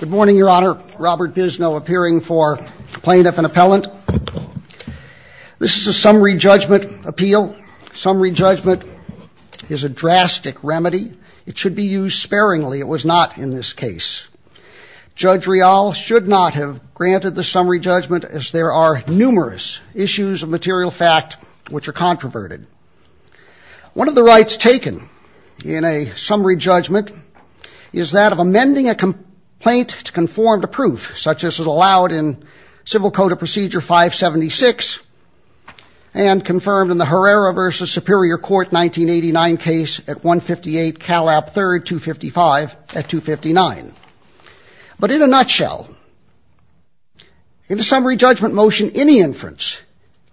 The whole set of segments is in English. Good morning, Your Honor. Robert Bisno appearing for plaintiff and appellant. This is a summary judgment appeal. Summary judgment is a drastic remedy. It should be used sparingly. It was not in this case. Judge Rial should not have granted the summary judgment as there are numerous issues of material fact which are controverted. One of the rights taken in a summary judgment is that of amending a complaint to conform to proof such as is allowed in Civil Code of Procedure 576 and confirmed in the Herrera v. Superior Court 1989 case at 158 Calab III 255 at 259. But in a nutshell, in a summary judgment motion any inference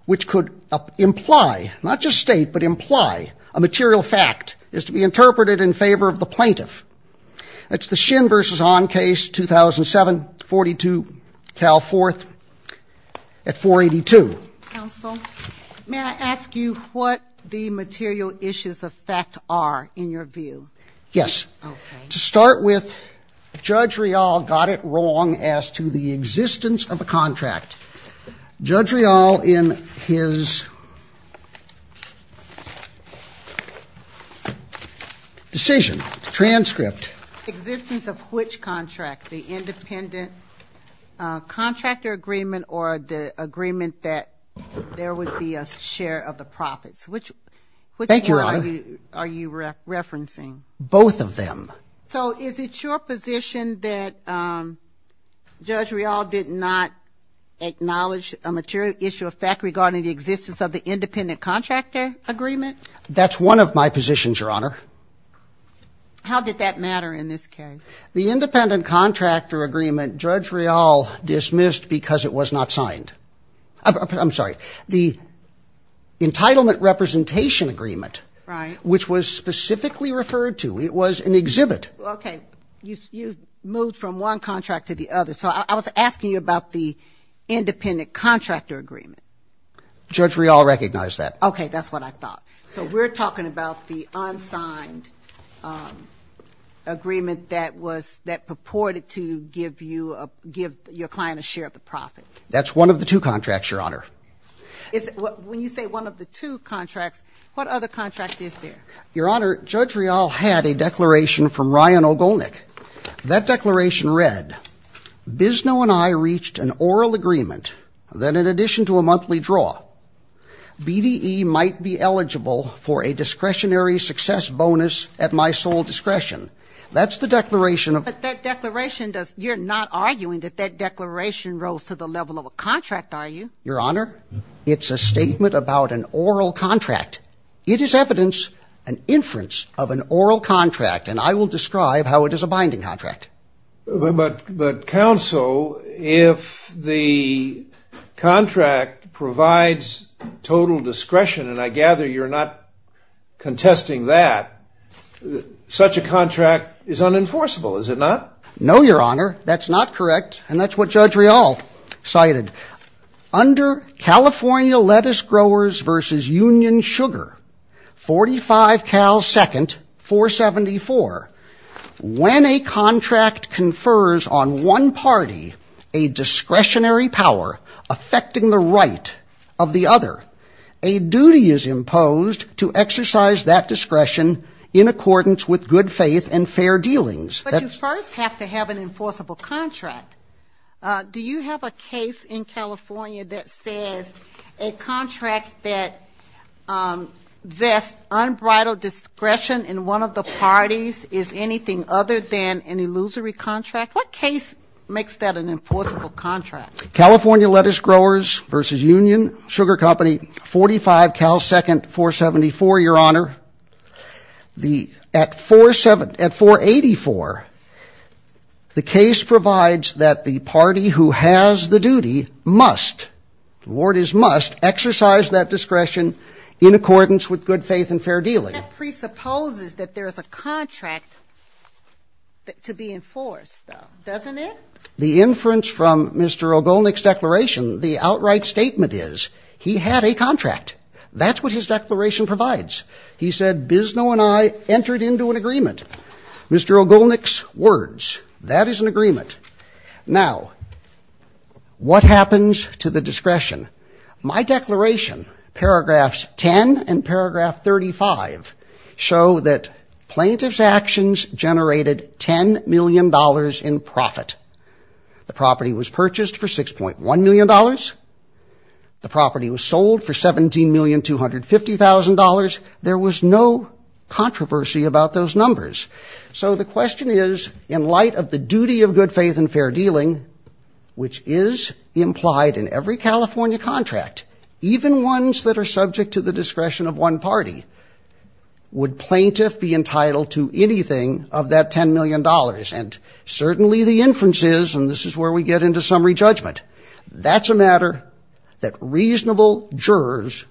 which could imply, not just state, but imply a material fact is to be interpreted in favor of the plaintiff. It's the Shin v. Hahn case 2007 42 Cal IV at 482. Counsel, may I ask you what the material issues of fact are in your view? Yes. To start with, Judge Rial got it wrong as to the existence of a contract. Judge Rial in his decision, transcript. Existence of which contract? The independent contractor agreement or the agreement that there would be a share of the profits? Which one are you referencing? Both of them. So is it your position that Judge Rial did not acknowledge a material issue of fact regarding the existence of the independent contractor agreement? That's one of my positions, Your Honor. How did that matter in this case? The independent contractor agreement, Judge Rial dismissed because it was not signed. I'm sorry. The entitlement representation agreement, which was specifically referred to, it was an exhibit. Okay. You moved from one contract to the other. So I was asking you about the independent contractor agreement. Judge Rial recognized that. Okay. That's what I thought. So we're talking about the unsigned agreement that purported to give your client a share of the profits. That's one of the two contracts, Your Honor. When you say one of the two contracts, what other contract is there? Your Honor, Judge Rial had a declaration from Ryan Ogolnik. That declaration read, BISNO and I reached an oral agreement that in addition to a monthly draw, BDE might be eligible for a discretionary success bonus at my sole discretion. That's the declaration of... But that declaration does... You're not arguing that that declaration rose to the level of a contract, are you? Your Honor, it's a statement about an oral contract. It is evidence, an inference of an oral contract, and I will describe how it is a binding contract. But counsel, if the contract provides total discretion, and I gather you're not contesting that, such a contract is unenforceable, is it not? No, Your Honor. That's not correct, and that's what Judge Rial cited. Under California Lettuce Growers versus Union Sugar, 45 Cal 2nd, 474, when a contract confers on one party a discretionary power affecting the right of the other, a duty is imposed to exercise that discretion in accordance with good faith and fair dealings. But you first have to have an enforceable contract. Do you have a case in California that says a contract that vests unbridled discretion in one of the parties is anything other than an illusory contract? What case makes that an enforceable contract? California Lettuce Growers versus Union Sugar Company, 45 Cal 2nd, 474, Your The case provides that the party who has the duty must, the word is must, exercise that discretion in accordance with good faith and fair dealing. That presupposes that there is a contract to be enforced, though, doesn't it? The inference from Mr. O'Golnick's declaration, the outright statement is he had a contract. That's what his declaration provides. He said Bisno and I entered into an agreement. Mr. O'Golnick's words, that is an agreement. Now, what happens to the discretion? My declaration, paragraphs 10 and paragraph 35, show that plaintiff's actions generated $10 million in profit. The property was purchased for $6.1 million. The property was sold for $17,250,000. There was no controversy about those numbers. So the question is, in light of the duty of good faith and fair dealing, which is implied in every California contract, even ones that are subject to the discretion of one party, would plaintiff be entitled to anything of that $10 million? And certainly the inference is, and this is where we get into summary judgment, that's a matter that reasonable jurors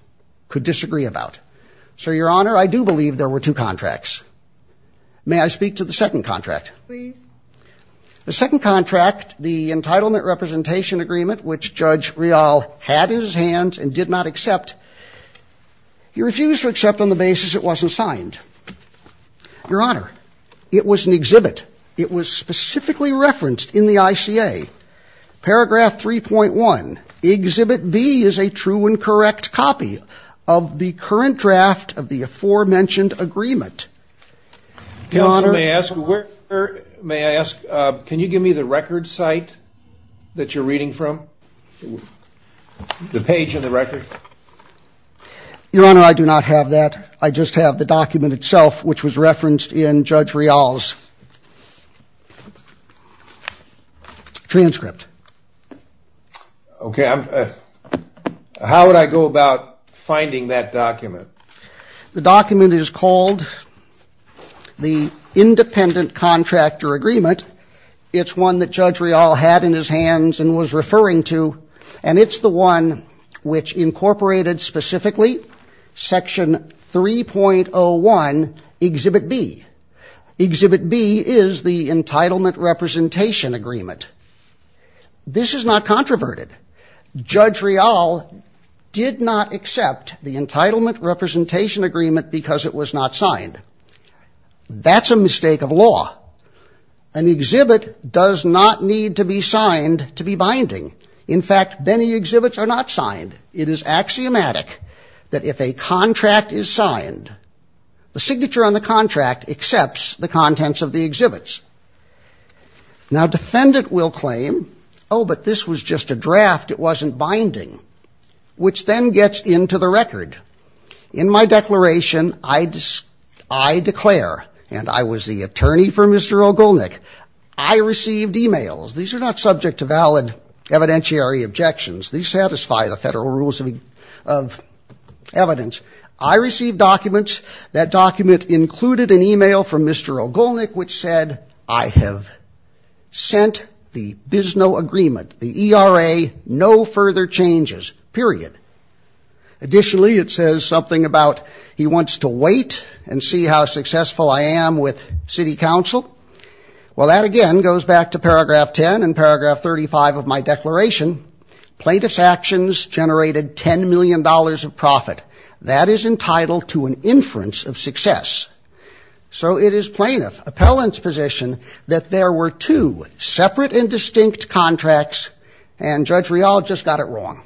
could disagree about. So, Your Honor, I do believe there were two contracts. May I speak to the second contract? Please. The second contract, the entitlement representation agreement, which Judge Real had in his hands and did not accept, he refused to accept on the basis it wasn't signed. Your Honor, it was an exhibit. It was specifically referenced in the ICA. Paragraph 3.1, exhibit B is a true and correct copy of the current draft of the aforementioned agreement. Your Honor, may I ask, can you give me the record site that you're reading from? The page in the record. Your Honor, I do not have that. I just have the document itself, which was referenced in Judge Real's document. Transcript. Okay. How would I go about finding that document? The document is called the independent contractor agreement. It's one that Judge Real had in his hands and was referring to, and it's the one which incorporated specifically section 3.01, exhibit B. Exhibit B is the entitlement representation agreement. This is not controverted. Judge Real did not accept the entitlement representation agreement because it was not signed. That's a mistake of law. An exhibit does not need to be signed to be binding. In fact, many exhibits are not signed. It is axiomatic that if a contract is signed, the signature on the contract accepts the contents of the exhibits. Now, a defendant will claim, oh, but this was just a draft. It wasn't binding, which then gets into the record. In my declaration, I declare, and I was the attorney for Mr. Ogolnik, I received emails. These are not subject to valid evidentiary objections. These satisfy the federal rules of evidence. I received documents. That document included an email from Mr. Ogolnik which said, I have sent the BISNO agreement, the ERA, no further changes, period. Additionally, it says something about he wants to wait and see how successful I am with city council. Well, that again goes back to paragraph 10 and paragraph 35 of my declaration. Plaintiff's actions generated $10 million of profit. That is entitled to an inference of success. So it is plaintiff, appellant's position that there were two separate and distinct contracts, and Judge Rial just got it wrong.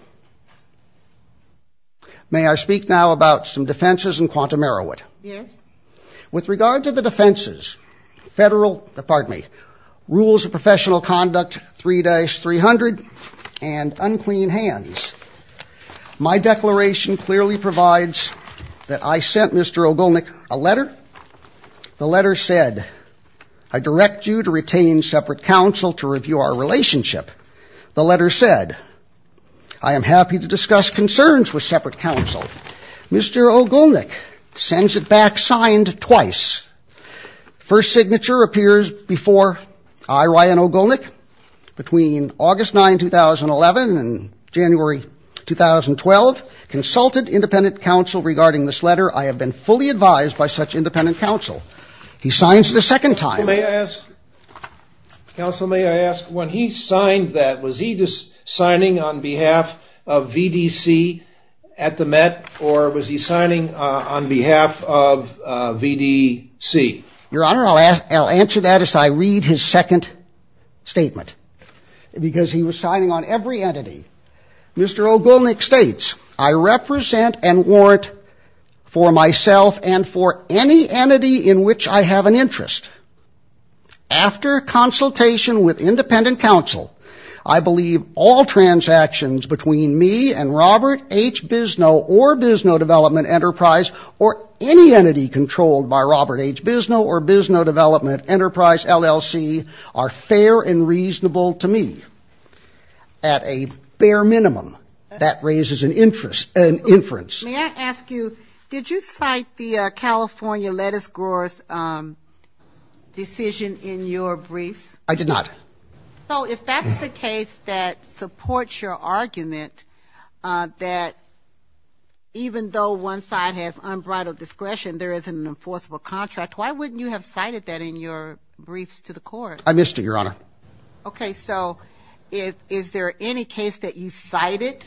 May I speak now about some defenses in quantum error? Yes. With regard to the defenses, rules of professional conduct 3-300 and unclean hands, my declaration clearly provides that I sent Mr. Ogolnik a letter. The letter said, I direct you to retain separate counsel to review our relationship. The letter said, I am happy to discuss concerns with separate counsel. Mr. Ogolnik sends it back signed twice. First signature appears before I, Ryan Ogolnik, between August 9, 2011 and January 2012, consulted independent counsel regarding this letter. I have been fully advised by such independent counsel. He signs it a second time. Counsel, may I ask, when he signed that, was he just signing on behalf of VDC at the Your Honor, I'll answer that as I read his second statement. Because he was signing on every entity. Mr. Ogolnik states, I represent and warrant for myself and for any entity in which I have an interest. After consultation with independent counsel, I believe all transactions between me and Auburn H. BISNOW or BISNOW Development Enterprise LLC are fair and reasonable to me. At a bare minimum, that raises an inference. May I ask you, did you cite the California lettuce growers decision in your briefs? I did not. So if that's the case that supports your argument, that even though one side has unbridled discretion, there is an enforceable contract, why wouldn't you have cited that in your briefs to the court? I missed it, Your Honor. Okay. So is there any case that you cited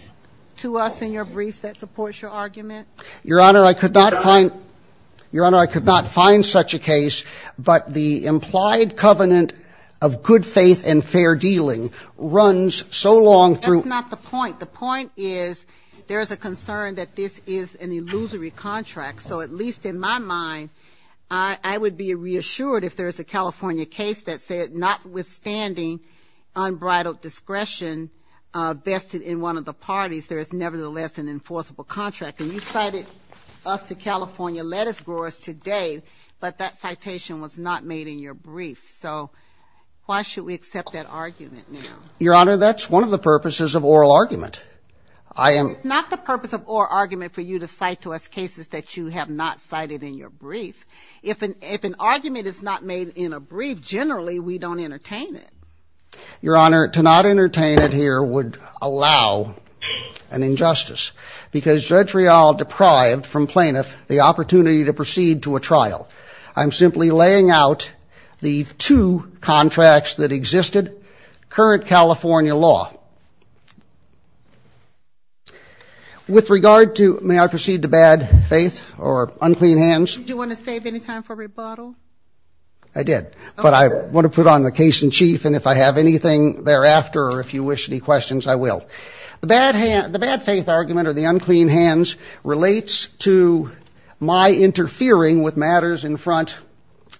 to us in your briefs that supports your argument? Your Honor, I could not find such a case. But the implied covenant of good faith and fair dealing runs so long through That's not the point. The point is, there is a concern that this is an illusory contract. So at least in my mind, I would be reassured if there's a California case that said notwithstanding unbridled discretion vested in one of the parties, there is nevertheless an enforceable contract. And you cited us to California lettuce growers today, but that citation was not made in your briefs. So why should we accept that argument now? Your Honor, that's one of the purposes of oral argument. I am It's not the purpose of oral argument for you to cite to us cases that you have not cited in your brief. If an argument is not made in a brief, generally, we don't entertain it. Your Honor, to not entertain it here would allow an injustice because Judge Real deprived from plaintiff the opportunity to proceed to a trial. I'm simply laying out the two contracts that existed. Current California law. With regard to may I proceed to bad faith or unclean hands, do you want to save any time for rebuttal? I did, but I want to put on the case in chief and if I have anything thereafter or if you wish any questions, I will the bad hand, the bad faith argument or the unclean hands relates to my interfering with matters in front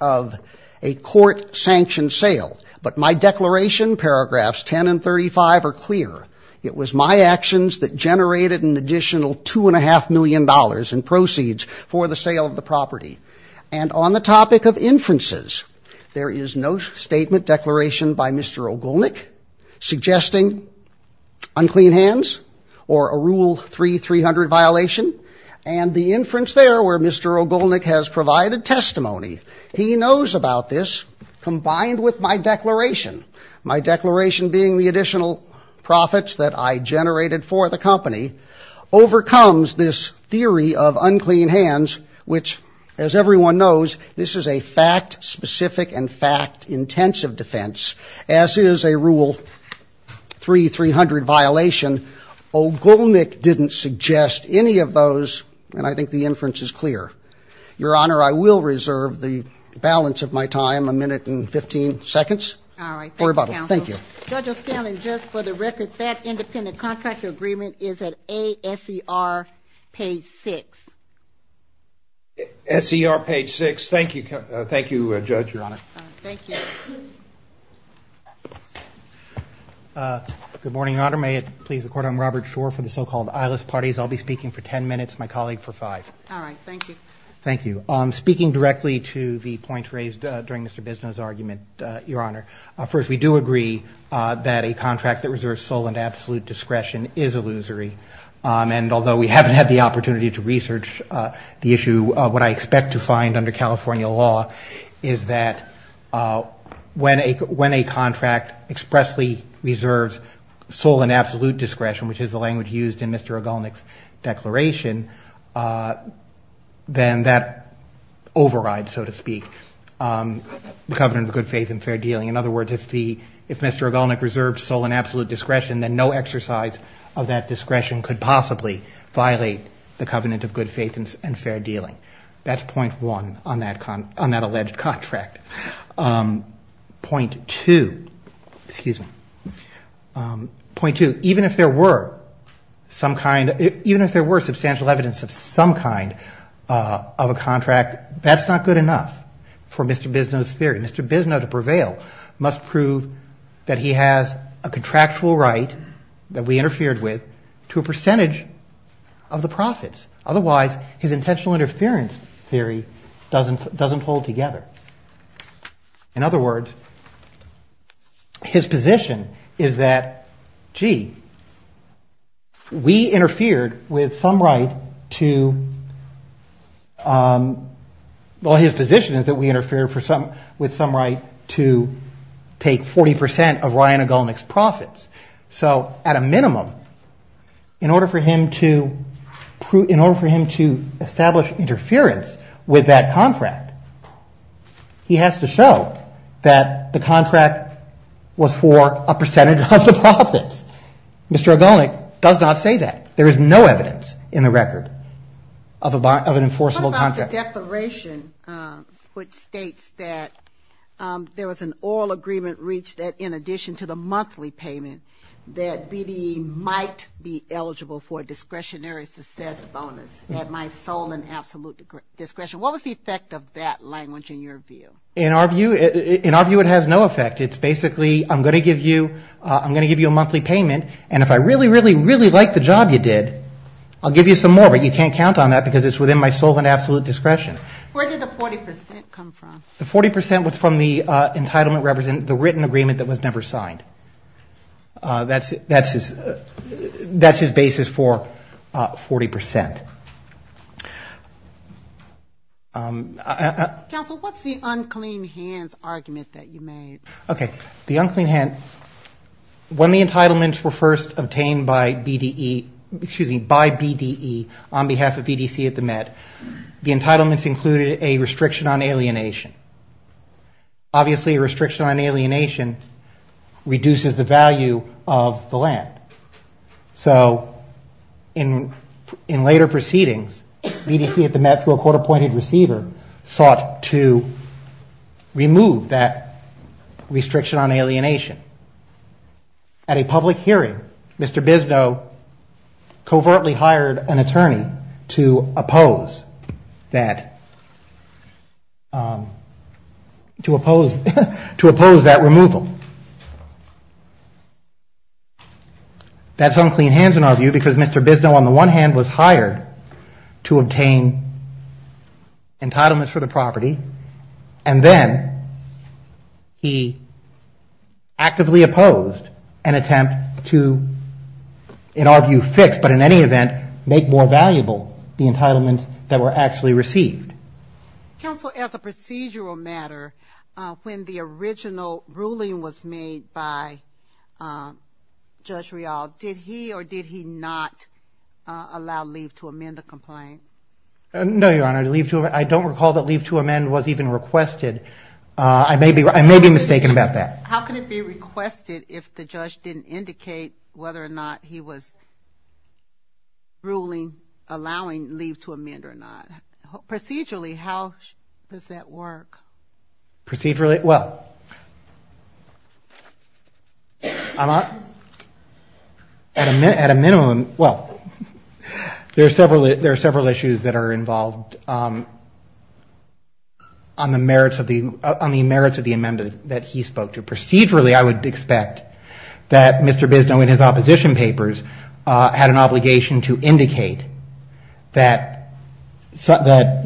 of a court-sanctioned sale. But my declaration, paragraphs 10 and 35 are clear. It was my actions that generated an additional $2.5 million in proceeds for the sale of the property. And on the topic of inferences, there is no statement declaration by Mr. Ogulnick suggesting unclean hands or a rule 3-300 violation. And the inference there where Mr. Ogulnick has provided testimony, he knows about this combined with my declaration. My declaration being the additional profits that I generated for the company overcomes this theory of unclean hands which, as everyone knows, this is a fact-specific and fact-intensive defense as is a rule 3-300 violation. Ogulnick didn't suggest any of those and I think the inference is clear. Your Honor, I will reserve the balance of my time, a minute and 15 seconds for rebuttal. Thank you. Judge O'Scallion, just for the record, that independent contract agreement is at A-S-E-R page 6. S-E-R page 6. Thank you, Judge, Your Honor. Thank you. Good morning, Your Honor. May it please the Court, I'm Robert Schor for the so-called eyeless parties. I'll be speaking for 10 minutes, my colleague for 5. All right. Thank you. Thank you. Speaking directly to the points raised during Mr. Bisnow's argument, Your Honor, first, we do agree that a contract that reserves sole and absolute discretion is illusory. And although we haven't had the opportunity to research the issue, what I expect to find under California law is that when a contract expressly reserves sole and absolute discretion, which is the language used in Mr. O'Gallnick's declaration, then that overrides, so to speak, the covenant of good faith and fair dealing. In other words, if Mr. O'Gallnick reserves sole and absolute discretion, then no exercise of that discretion could possibly violate the covenant of good faith and fair dealing. That's point one on that alleged contract. Point two, excuse me, point two, even if there were substantial evidence of some kind of a contract, that's not good enough for Mr. Bisnow's theory. Mr. Bisnow, to prevail, must prove that he has a contractual right that we interfered with to a percentage of the profits. Otherwise, his intentional interference theory doesn't hold together. In other words, his position is that, gee, we interfered with some right to, well, his position is that we interfered with some right to take 40% of Ryan O'Gallnick's profits. So at a minimum, in order for him to establish interference with that contract, he has to show that the contract was for a percentage of the profits. Mr. O'Gallnick does not say that. There is no evidence in the record of an enforceable contract. What about the declaration which states that there was an oral agreement reached that in that BDE might be eligible for a discretionary success bonus at my sole and absolute discretion? What was the effect of that language in your view? In our view, it has no effect. It's basically, I'm going to give you a monthly payment, and if I really, really, really like the job you did, I'll give you some more, but you can't count on that because it's within my sole and absolute discretion. Where did the 40% come from? The 40% was from the entitlement representing the written agreement that was never signed. That's his basis for 40%. Counsel, what's the unclean hands argument that you made? The unclean hand, when the entitlements were first obtained by BDE on behalf of BDC at the Met, obviously a restriction on alienation reduces the value of the land. So in later proceedings, BDC at the Met through a court-appointed receiver sought to remove that restriction on alienation. At a public hearing, Mr. Bisnow covertly hired an attorney to oppose that removal. That's unclean hands in our view because Mr. Bisnow on the one hand was hired to obtain entitlements for the property, and then he actively opposed an attempt to, in our view, fix, but in any event, make more valuable the entitlements that were actually received. Counsel, as a procedural matter, when the original ruling was made by Judge Rial, did he or did he not allow leave to amend the complaint? No, Your Honor. I don't recall that leave to amend was even requested. I may be mistaken about that. How can it be requested if the judge didn't indicate whether or not he was ruling, allowing leave to amend or not? Procedurally, how does that work? Procedurally, well, at a minimum, well, there are several issues that are involved on the merits of the amendment that he spoke to. Procedurally, I would expect that Mr. Bisnow in his opposition papers had an obligation to indicate that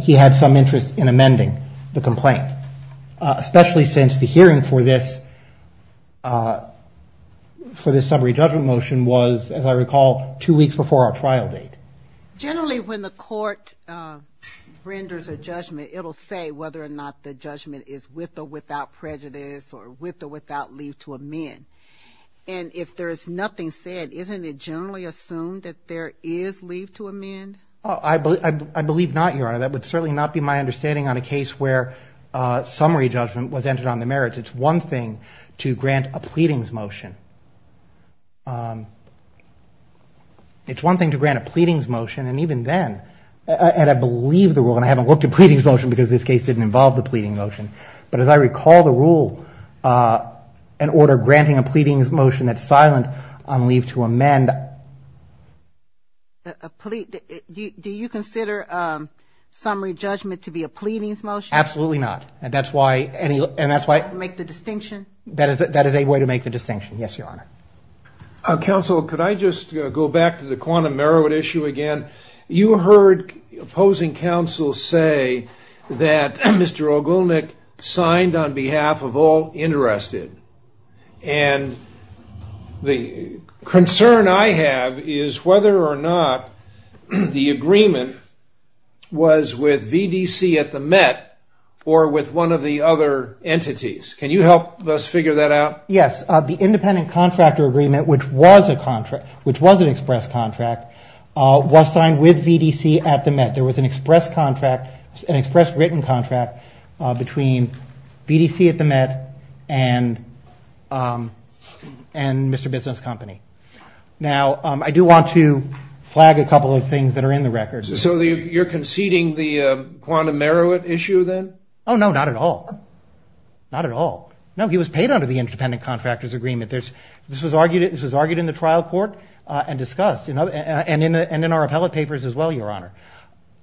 he had some interest in amending the complaint, especially since the hearing for this summary judgment motion was, as I recall, two weeks before our trial date. Generally, when the court renders a judgment, it'll say whether or not the judgment is with or without prejudice or with or without leave to amend. And if there is nothing said, isn't it generally assumed that there is leave to amend? I believe not, Your Honor. That would certainly not be my understanding on a case where summary judgment was entered on the merits. It's one thing to grant a pleadings motion. It's one thing to grant a pleadings motion, and even then, and I believe the rule, and I haven't looked at pleadings motion because this case didn't involve the pleading motion, but as I recall the rule, an order granting a pleadings motion that's silent on leave to amend. Do you consider summary judgment to be a pleadings motion? Absolutely not. And that's why... To make the distinction? That is a way to make the distinction, yes, Your Honor. Counsel, could I just go back to the quantum merit issue again? You heard opposing counsel say that Mr. Ogilnick signed on behalf of all interested. And the concern I have is whether or not the agreement was with VDC at the Met or with one of the other entities. Can you help us figure that out? Yes. The independent contractor agreement, which was an express contract, was signed with VDC at the Met. There was an express written contract between VDC at the Met and Mr. Business Company. Now I do want to flag a couple of things that are in the record. So you're conceding the quantum merit issue then? Oh no, not at all. Not at all. No, he was paid under the independent contractor's agreement. This was argued in the trial court and discussed, and in our appellate papers as well, Your Honor.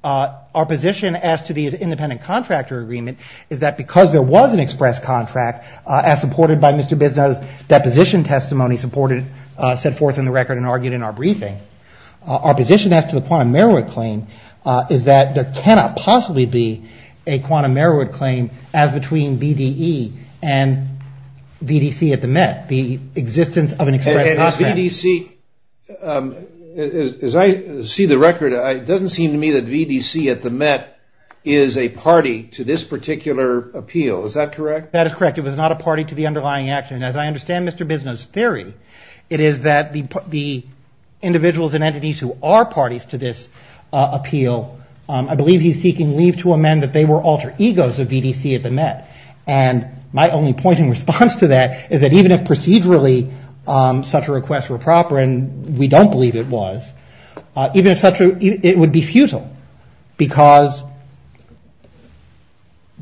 Our position as to the independent contractor agreement is that because there was an express contract as supported by Mr. Business, that position testimony supported, set forth in the record and argued in our briefing. Our position as to the quantum merit claim is that there cannot possibly be a quantum merit claim as between VDE and VDC at the Met. The existence of an express contract. And is VDC, as I see the record, it doesn't seem to me that VDC at the Met is a party to this particular appeal. Is that correct? That is correct. It was not a party to the underlying action. As I understand Mr. Business' theory, it is that the individuals and entities who are the egos of VDC at the Met, and my only point in response to that is that even if procedurally such a request were proper, and we don't believe it was, even if such a, it would be futile because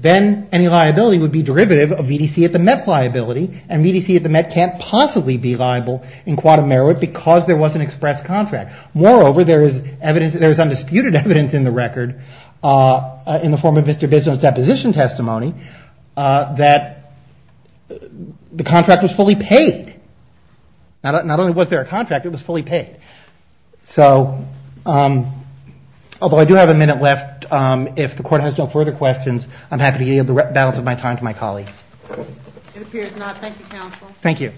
then any liability would be derivative of VDC at the Met's liability, and VDC at the Met can't possibly be liable in quantum merit because there was an express contract. Moreover, there is evidence, there is undisputed evidence in the record in the form of Mr. Business' deposition testimony that the contract was fully paid. Not only was there a contract, it was fully paid. So although I do have a minute left, if the court has no further questions, I'm happy to yield the balance of my time to my colleague. It appears not. Thank you, counsel. Thank you.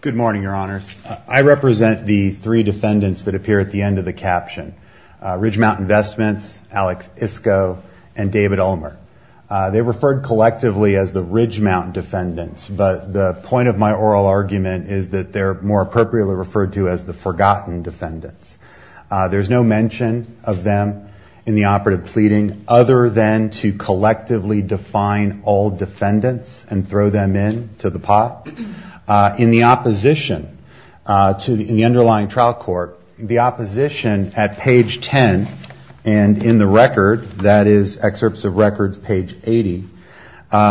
Good morning, your honors. I represent the three defendants that appear at the end of the caption. Ridgemount Investments, Alec Isco, and David Ulmer. They're referred collectively as the Ridgemount defendants, but the point of my oral argument is that they're more appropriately referred to as the forgotten defendants. There's no mention of them in the operative pleading other than to collectively define all defendants and throw them in to the pot. In the opposition, in the underlying trial court, the opposition at page 10 and in the record, that is excerpts of records page 80,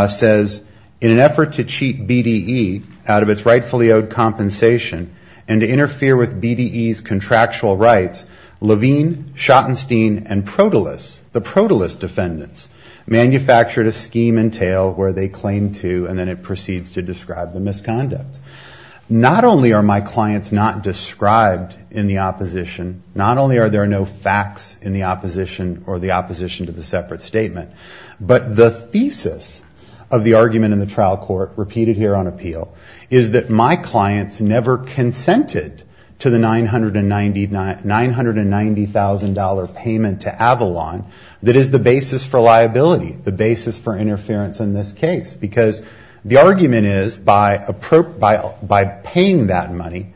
says, in an effort to cheat BDE out of its rightfully owed compensation and to interfere with BDE's contractual rights, Levine, Schottenstein, and Protilus, the Protilus defendants, manufactured a scheme and tale where they claim to, and then it proceeds to describe the misconduct. Not only are my clients not described in the opposition, not only are there no facts in the opposition or the opposition to the separate statement, but the thesis of the argument in the trial court, repeated here on appeal, is that my clients never consented to the $990,000 payment to Avalon that is the basis for liability, the basis for interference in this case, because the argument is by paying that money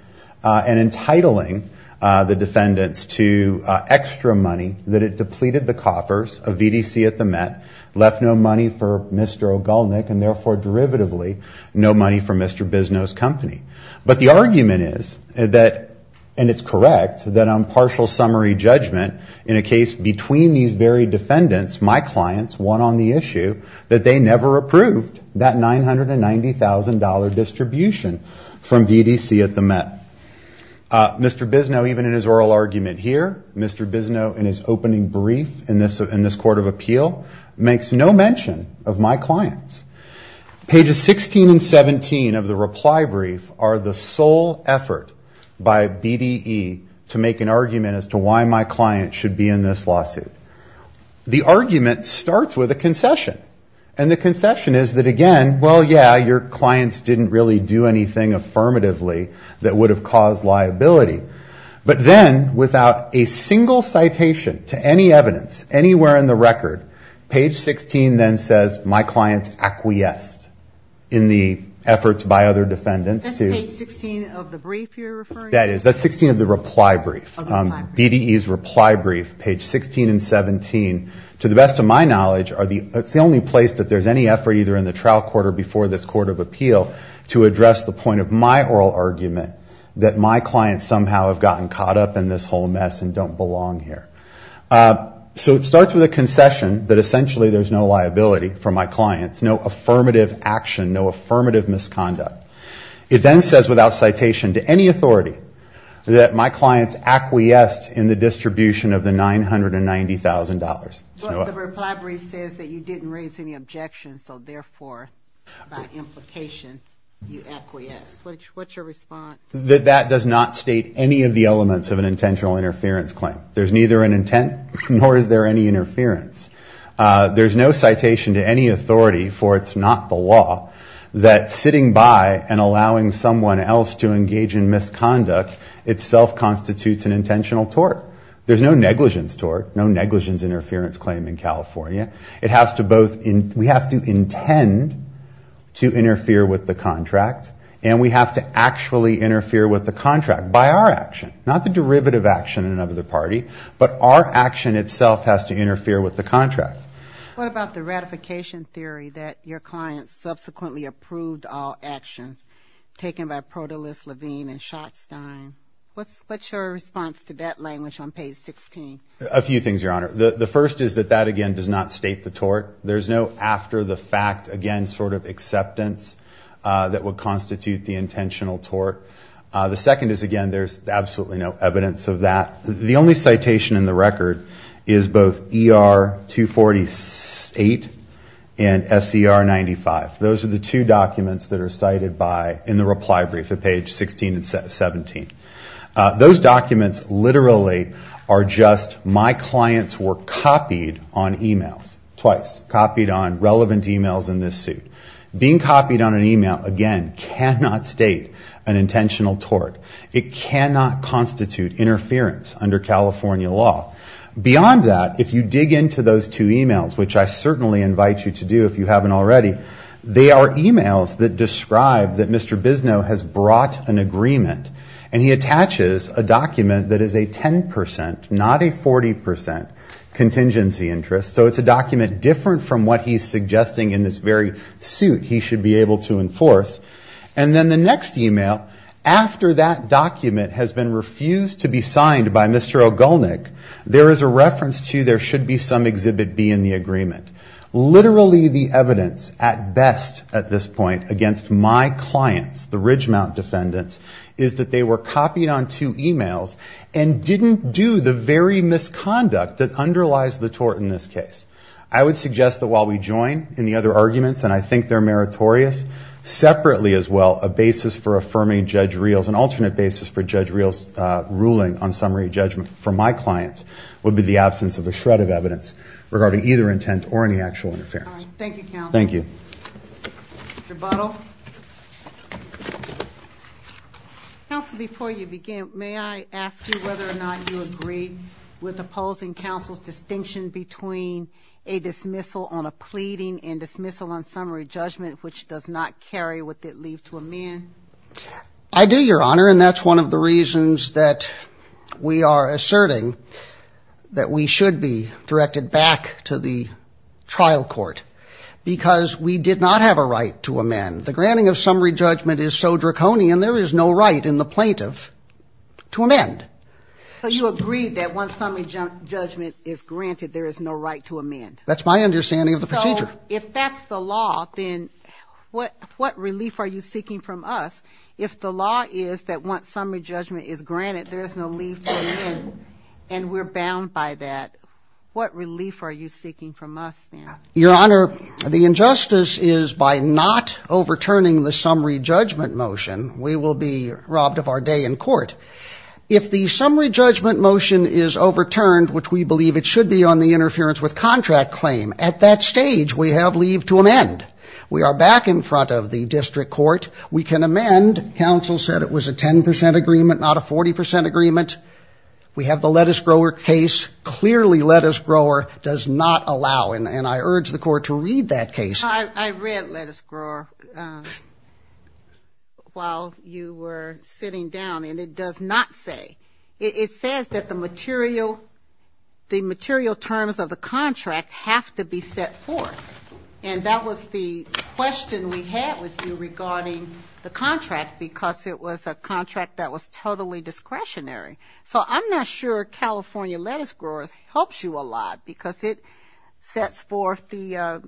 and entitling the defendants to extra money that it depleted the coffers of VDC at the Met, left no money for Mr. O'Gallnick and therefore derivatively no money for Mr. Bisno's company. But the argument is that, and it's correct, that on partial summary judgment in a case between these very defendants, my clients, one on the issue, that they never approved that $990,000 distribution from VDC at the Met. Mr. Bisno, even in his oral argument here, Mr. Bisno in his opening brief in this court of appeal, makes no mention of my clients. Pages 16 and 17 of the reply brief are the sole effort by BDE to make an argument as to why my client should be in this lawsuit. The argument starts with a concession. And the concession is that again, well, yeah, your clients didn't really do anything affirmatively that would have caused liability. But then without a single citation to any evidence, anywhere in the record, page 16 then says my client acquiesced in the efforts by other defendants to That's page 16 of the brief you're referring to? That is, that's 16 of the reply brief, BDE's reply brief, page 16 and 17, to the best of my knowledge, are the, it's the only place that there's any effort either in the trial court or before this court of appeal to address the point of my oral argument that my clients somehow have gotten caught up in this whole mess and don't belong here. So it starts with a concession that essentially there's no liability for my clients, no affirmative action, no affirmative misconduct. It then says without citation to any authority that my clients acquiesced in the distribution of the $990,000. But the reply brief says that you didn't raise any objections, so therefore by implication you acquiesced. What's your response? That does not state any of the elements of an intentional interference claim. There's neither an intent nor is there any interference. There's no citation to any authority, for it's not the law, that sitting by and allowing someone else to engage in misconduct itself constitutes an intentional tort. There's no negligence tort, no negligence interference claim in California. It has to both, we have to intend to interfere with the contract and we have to actually interfere with the contract by our action, not the derivative action of the party. But our action itself has to interfere with the contract. What about the ratification theory that your client subsequently approved all actions taken by Protolis, Levine, and Schotstein? What's your response to that language on page 16? A few things, Your Honor. The first is that that again does not state the tort. There's no after the fact, again, sort of acceptance that would constitute the intentional tort. The second is, again, there's absolutely no evidence of that. The only citation in the record is both ER-240-8 and SCR-95. Those are the two documents that are cited by, in the reply brief at page 16 and 17. Those documents literally are just, my clients were copied on emails, twice. Copied on relevant emails in this suit. Being copied on an email, again, cannot state an intentional tort. It cannot constitute interference under California law. Beyond that, if you dig into those two emails, which I certainly invite you to do if you haven't already, they are emails that describe that Mr. Bisno has brought an agreement. And he attaches a document that is a 10%, not a 40% contingency interest. So it's a document different from what he's suggesting in this very suit he should be able to enforce. And then the next email, after that document has been refused to be signed by Mr. Ogulnick, there is a reference to there should be some Exhibit B in the agreement. Literally the evidence, at best at this point, against my clients, the Ridgemount defendants, is that they were copied on two emails and didn't do the very misconduct that underlies the tort in this case. I would suggest that while we join in the other arguments, and I think they're meritorious, separately as well, a basis for affirming Judge Reel's, an alternate basis for Judge Reel's ruling on summary judgment for my client would be the absence of a shred of evidence regarding either intent or any actual interference. Thank you, counsel. Thank you. Rebuttal. Counsel, before you begin, may I ask you whether or not you agree with opposing counsel's distinction between a dismissal on a pleading and dismissal on summary judgment, which does not carry with it leave to amend? I do, Your Honor, and that's one of the reasons that we are asserting that we should be directed back to the trial court, because we did not have a right to amend. The granting of summary judgment is so draconian, there is no right in the plaintiff to amend. So you agree that once summary judgment is granted, there is no right to amend? That's my understanding of the procedure. So if that's the law, then what relief are you seeking from us if the law is that once summary judgment is granted, there is no leave to amend, and we're bound by that? What relief are you seeking from us, then? Your Honor, the injustice is by not overturning the summary judgment motion, we will be robbed of our day in court. If the summary judgment motion is overturned, which we believe it should be on the interference with contract claim, at that stage, we have leave to amend. We are back in front of the district court. We can amend. Counsel said it was a 10 percent agreement, not a 40 percent agreement. We have the lettuce grower case. Clearly lettuce grower does not allow, and I urge the court to read that case. I read lettuce grower while you were sitting down, and it does not say. It says that the material terms of the contract have to be set forth, and that was the question we had with you regarding the contract because it was a contract that was totally discretionary. So I'm not sure California lettuce growers helps you a lot because it sets forth the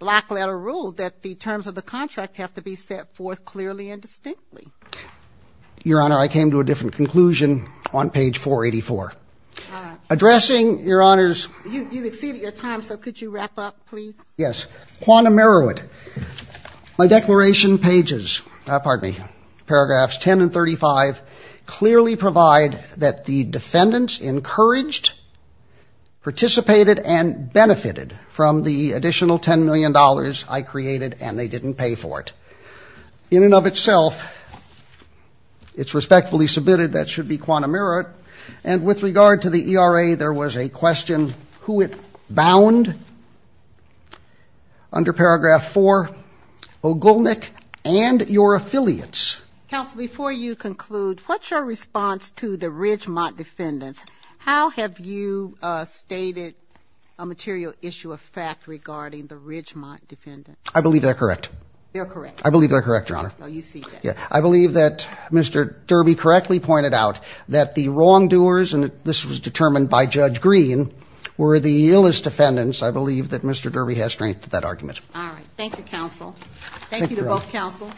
black letter rule that the terms of the contract have to be set forth clearly and distinctly. Your Honor, I came to a different conclusion on page 484. Addressing, Your Honors, you've exceeded your time, so could you wrap up, please? Yes. Quantum meruit. My declaration pages, pardon me, paragraphs 10 and 35, clearly provide that the defendants encouraged, participated, and benefited from the additional $10 million I created, and they didn't pay for it. In and of itself, it's respectfully submitted that should be quantum meruit, and with regard to the ERA, there was a question who it bound under paragraph 4, O'Gulnick and your affiliates. Counsel, before you conclude, what's your response to the Ridgemont defendants? How have you stated a material issue of fact regarding the Ridgemont defendants? I believe they're correct. They're correct. I believe they're correct, Your Honor. Oh, you see that. Yeah. I believe that Mr. Derby correctly pointed out that the wrongdoers, and this was determined by Judge Green, were the illest defendants. I believe that Mr. Derby has strength for that argument. All right. Thank you, Counsel. Thank you to both Counsel,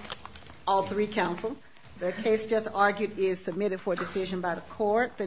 all three Counsel. The case just argued is submitted for decision by the court. The next...